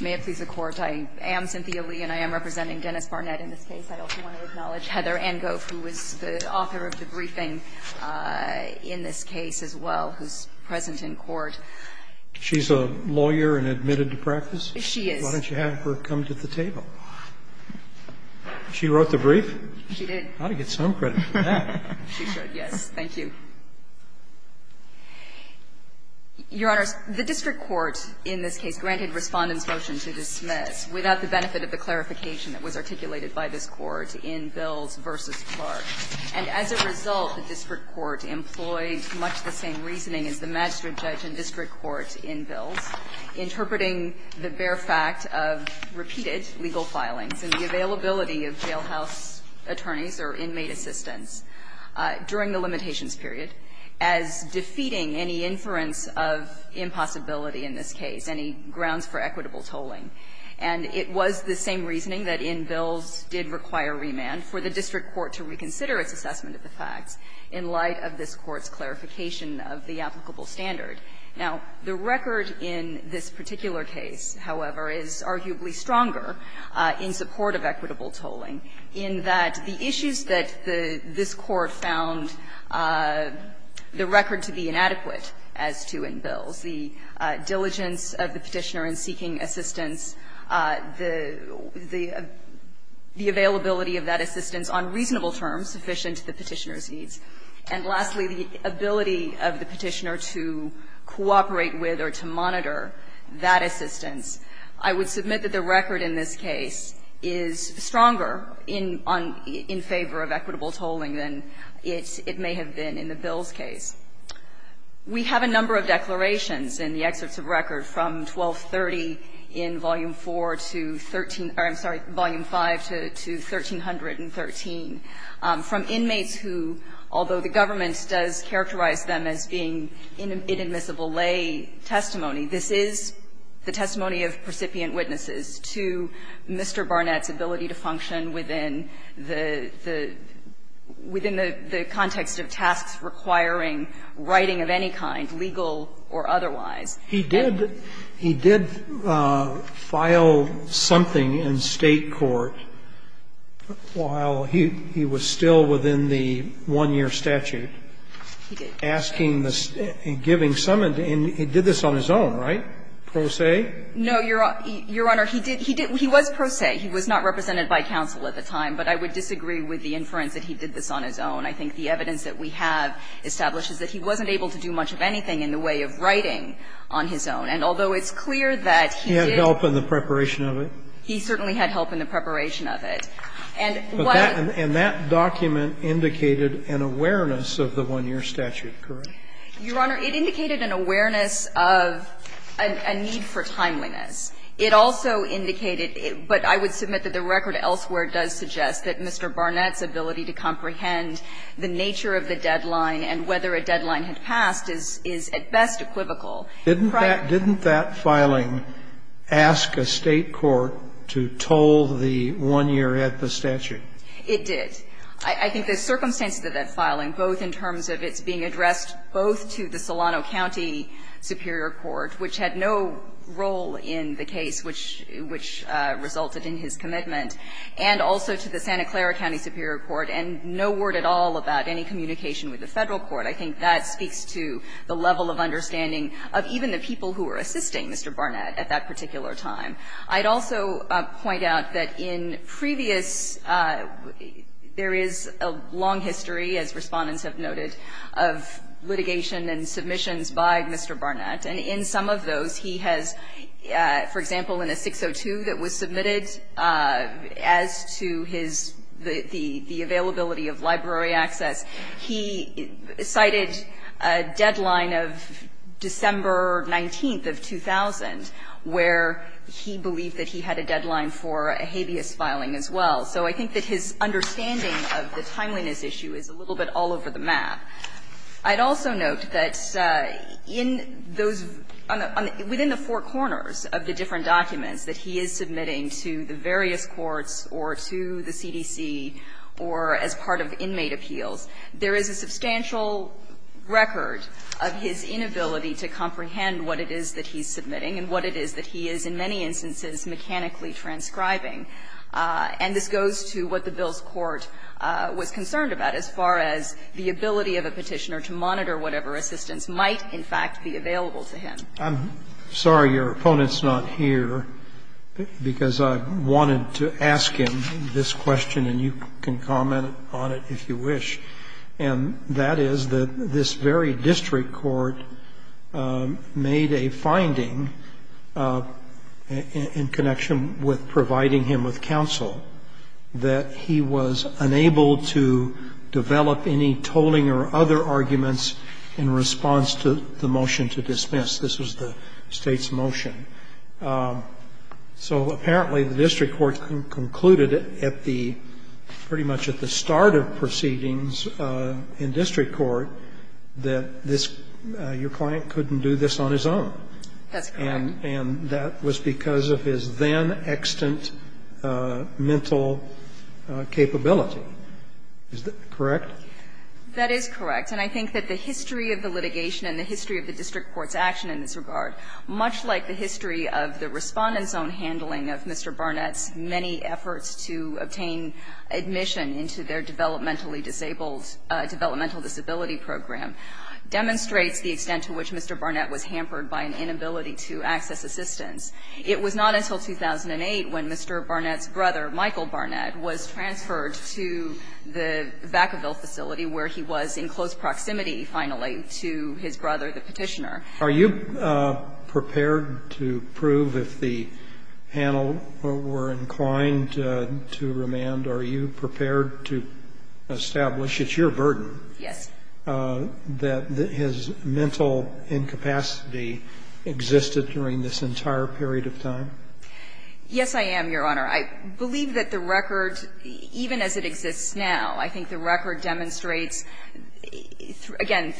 May it please the Court, I am Cynthia Lee, and I am representing Dennis Barnett in this case. I also want to acknowledge Heather Angoff, who was the author of the briefing in this case as well, who is present in court. She's a lawyer and admitted to practice? She is. Why don't you have her come to the table? She wrote the brief? She did. I ought to get some credit for that. She should, yes. Thank you. Your Honors, the district court in this case granted Respondent's motion to dismiss, without the benefit of the clarification that was articulated by this Court in Bills v. Clark. And as a result, the district court employed much the same reasoning as the magistrate judge and district court in Bills, interpreting the bare fact of repeated legal filings and the availability of jailhouse attorneys or inmate assistants during the limitations period as defeating any inference of impossibility in this case, any grounds for equitable tolling. And it was the same reasoning that in Bills did require remand for the district court to reconsider its assessment of the facts in light of this Court's clarification of the applicable standard. Now, the record in this particular case, however, is arguably stronger in support of equitable tolling, in that the issues that this Court found the record to be inadequate as to in Bills, the diligence of the Petitioner in seeking assistance, the availability of that assistance on reasonable terms sufficient to the Petitioner's needs, and lastly, the ability of the Petitioner to cooperate with or to monitor that assistance, I would submit that the record in this case is stronger in favor of equitable tolling than it may have been in the Bills case. We have a number of declarations in the excerpts of record from 1230 in Volume 4 to 13 or, I'm sorry, Volume 5 to 1313 from inmates who, although the government does characterize them as being inadmissible lay testimony, this is the testimony of precipient witnesses to Mr. Barnett's ability to function within the the within the context of tasks requiring writing of any kind, legal or otherwise. He did file something in State court while he was still within the one-year statute. He did. Asking the State, giving some of the individuals, and he did this on his own, right? Pro se? No, Your Honor. He did. He was pro se. He was not represented by counsel at the time, but I would disagree with the inference that he did this on his own. I think the evidence that we have establishes that he wasn't able to do much of anything in the way of writing on his own, and although it's clear that he did. He had help in the preparation of it? He certainly had help in the preparation of it. And what I'm saying is that he did this on his own. And that document indicated an awareness of the one-year statute, correct? Your Honor, it indicated an awareness of a need for timeliness. It also indicated, but I would submit that the record elsewhere does suggest that Mr. Barnett's ability to comprehend the nature of the deadline and whether a deadline had passed is at best equivocal. Didn't that filing ask a State court to toll the one-year statute? It did. I think the circumstances of that filing, both in terms of its being addressed both to the Solano County Superior Court, which had no role in the case which resulted in his commitment, and also to the Santa Clara County Superior Court, and no word at all about any communication with the Federal court, I think that speaks to the level of understanding of even the people who were assisting Mr. Barnett at that particular time. I'd also point out that in previous – there is a long history, as Respondents have noted, of litigation and submissions by Mr. Barnett. And in some of those he has, for example, in a 602 that was submitted as to his – the availability of library access, he cited a deadline of December 19th of 2000, where he believed that he had a deadline for a habeas filing as well. So I think that his understanding of the timeliness issue is a little bit all over the map. I'd also note that in those – within the four corners of the different documents that he is submitting to the various courts or to the CDC or as part of inmate appeals, there is a substantial record of his inability to comprehend what it is that he's submitting and what it is that he is in many instances mechanically transcribing. And this goes to what the bill's court was concerned about as far as the ability of a Petitioner to monitor whatever assistance might, in fact, be available to him. I'm sorry your opponent's not here, because I wanted to ask him this question, and you can comment on it if you wish. And that is that this very district court made a finding in connection with providing him with counsel that he was unable to develop any tolling or other arguments in response to the motion to dismiss. This was the State's motion. So apparently the district court concluded at the – pretty much at the start of the proceedings in district court that this – your client couldn't do this on his own. That's correct. And that was because of his then-extant mental capability. Is that correct? That is correct. And I think that the history of the litigation and the history of the district court's action in this regard, much like the history of the Respondent's own handling of Mr. Barnett's many efforts to obtain admission into their developmental disability program, demonstrates the extent to which Mr. Barnett was hampered by an inability to access assistance. It was not until 2008 when Mr. Barnett's brother, Michael Barnett, was transferred to the Vacaville facility, where he was in close proximity, finally, to his brother, the Petitioner. Are you prepared to prove, if the panel were inclined to remand, are you prepared to establish it's your burden that his mental incapacity existed during this entire period of time? Yes, I am, Your Honor. I believe that the record, even as it exists now, I think the record demonstrates – again,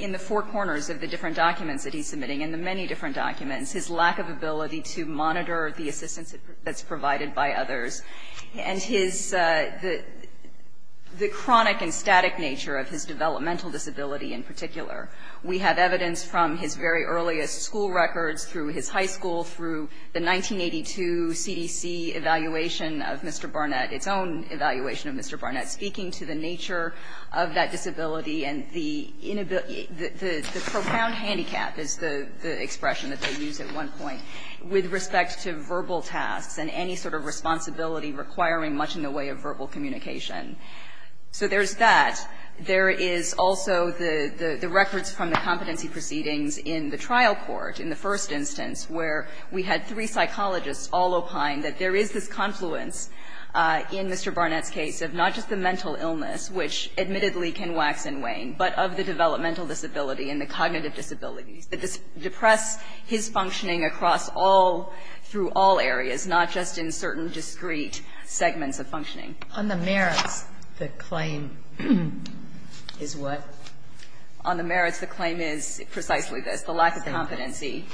in the four corners of the different documents that he's submitting and the many different documents – his lack of ability to monitor the assistance that's provided by others. And his – the chronic and static nature of his developmental disability in particular. We have evidence from his very earliest school records, through his high school, through the 1982 CDC evaluation of Mr. Barnett, its own evaluation of Mr. Barnett, speaking to the nature of that disability and the profound handicap, is the expression that they use at one point with respect to verbal tasks and any sort of responsibility requiring much in the way of verbal communication. So there's that. There is also the records from the competency proceedings in the trial court, in the first instance, where we had three psychologists all opine that there is this confluence in Mr. Barnett's case of not just the mental illness, which admittedly can wax and wane, but of the developmental disability and the cognitive disabilities that depress his functioning across all – through all areas, not just in certain discrete segments of functioning. On the merits, the claim is what? On the merits, the claim is precisely this, the lack of competency.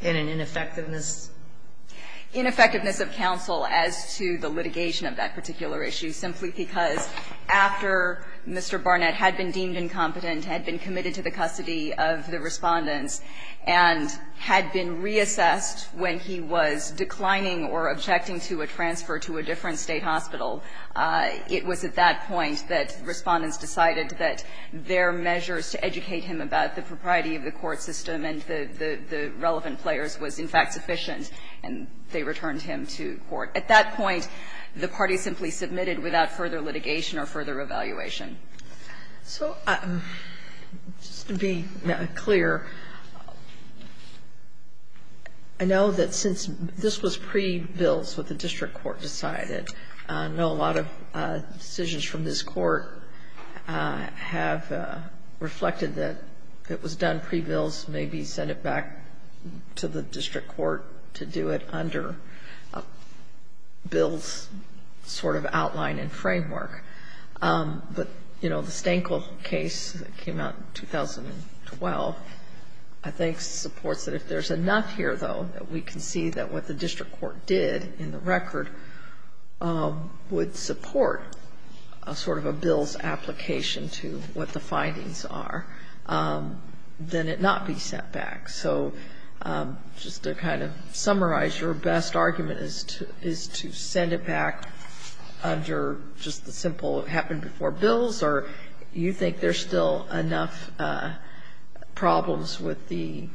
In an ineffectiveness? Ineffectiveness of counsel as to the litigation of that particular issue, simply because after Mr. Barnett had been deemed incompetent, had been committed to the custody of the Respondents, and had been reassessed when he was declining or objecting to a transfer to a different State hospital, it was at that point that Respondents decided that their measures to educate him about the propriety of the court system and the relevant players was, in fact, sufficient, and they returned him to court. At that point, the party simply submitted without further litigation or further evaluation. So just to be clear, I know that since this was pre-bills what the district court decided. I know a lot of decisions from this Court have reflected that it was done pre-bills, maybe send it back to the district court to do it under a bill's sort of outline and framework. But, you know, the Stanko case that came out in 2012, I think supports that if there's enough here, though, that we can see that what the district court did in the record would support a sort of a bill's application to what the findings are, then it not be sent back. So just to kind of summarize, your best argument is to send it back under just the simple it happened before bills, or you think there's still enough problems with the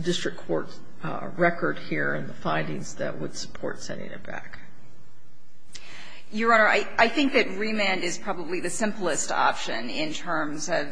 district court record here and the findings that would support sending it back? Your Honor, I think that remand is probably the simplest option in terms of,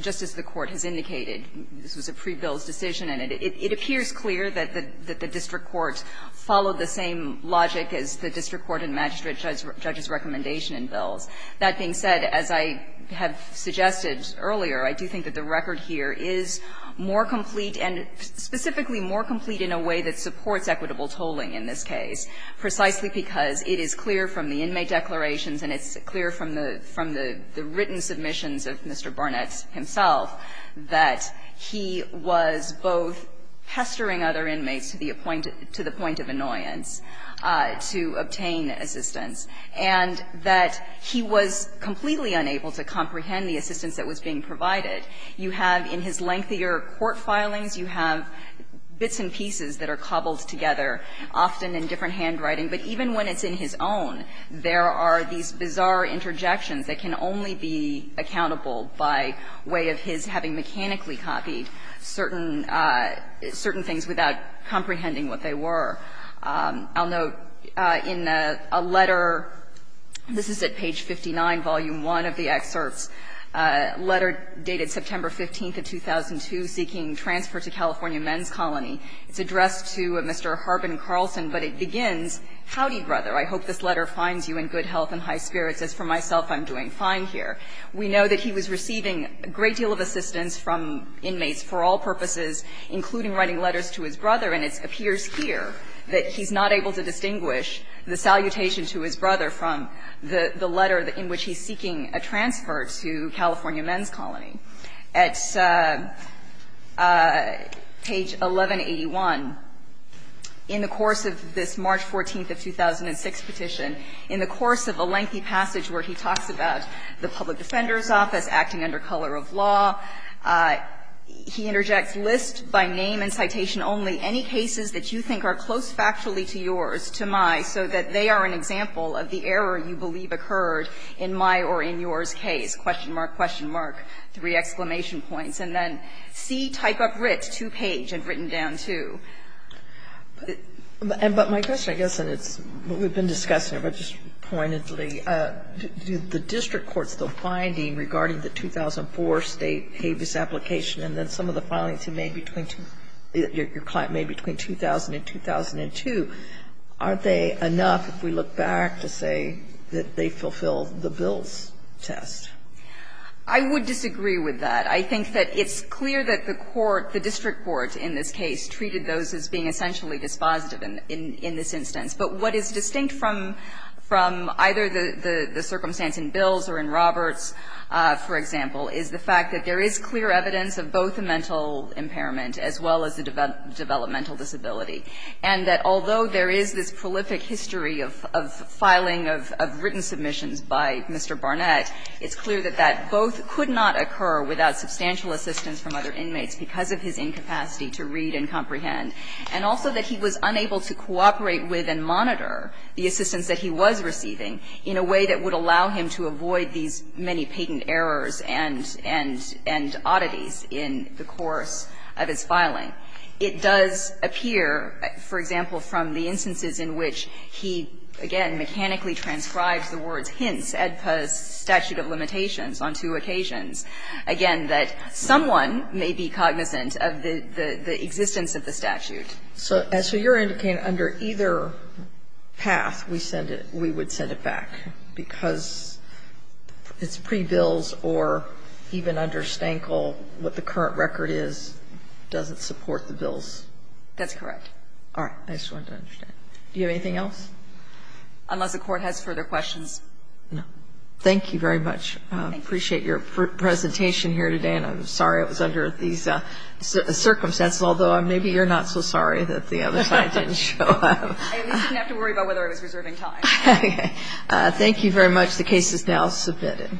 just as the Court has indicated, this was a pre-bills decision, and it appears clear that the district court followed the same logic as the district court and magistrate judge's recommendation in bills. That being said, as I have suggested earlier, I do think that the record here is more complete and specifically more complete in a way that supports equitable tolling in this case, precisely because it is clear from the inmate declarations and it's clear from the written submissions of Mr. Barnett himself that he was both pestering other inmates to the point of annoyance to obtain assistance, and that he was completely unable to comprehend the assistance that was being provided. You have, in his lengthier court filings, you have bits and pieces that are cobbled together, often in different handwriting. But even when it's in his own, there are these bizarre interjections that can only be accountable by way of his having mechanically copied certain things without comprehending what they were. I'll note in a letter, this is at page 59, volume 1 of the excerpts, letter dated September 15th of 2002, seeking transfer to California Men's Colony. It's addressed to Mr. Harbin Carlson, but it begins, Howdy, brother, I hope this letter finds you in good health and high spirits. As for myself, I'm doing fine here. We know that he was receiving a great deal of assistance from inmates for all purposes, including writing letters to his brother, and it appears here that he's not able to distinguish the salutation to his brother from the letter in which he's seeking a transfer to California Men's Colony. At page 1181, in the course of this March 14th of 2006 petition, in the course of a lengthy passage where he talks about the public defender's office, acting under color of law, he interjects, List by name and citation only any cases that you think are close factually to yours, to my, so that they are an example of the error you believe occurred in my or in yours case? Question mark, question mark, three exclamation points. And then C, type of writ, two-page and written down, too. But my question, I guess, and it's what we've been discussing here, but just pointedly, do the district courts, the finding regarding the 2004 State habeas application and then some of the filings you made between your client made between 2000 and 2002, aren't they enough, if we look back, to say that they fulfill the Bill's test? I would disagree with that. I think that it's clear that the court, the district court in this case, treated those as being essentially dispositive in this instance. But what is distinct from either the circumstance in Bill's or in Roberts, for example, is the fact that there is clear evidence of both the mental impairment as well as the developmental disability, and that although there is this prolific history of filing of written submissions by Mr. Barnett, it's clear that that both could not occur without substantial assistance from other inmates because of his incapacity to read and comprehend, and also that he was unable to cooperate with and monitor the assistance that he was receiving in a way that would allow him to avoid these many patent errors and oddities in the course of his filing. It does appear, for example, from the instances in which he, again, mechanically transcribes the words, hence, AEDPA's statute of limitations on two occasions, again, that someone may be cognizant of the existence of the statute. So as you're indicating, under either path, we send it, we would send it back, because it's pre-Bill's or even under Stankle, what the current record is doesn't support the Bill's. That's correct. All right. I just wanted to understand. Do you have anything else? Unless the Court has further questions. No. Thank you very much. Thank you. I appreciate your presentation here today, and I'm sorry it was under these circumstances, although maybe you're not so sorry that the other side didn't show up. I at least didn't have to worry about whether I was reserving time. Okay. Thank you very much. The case is now submitted.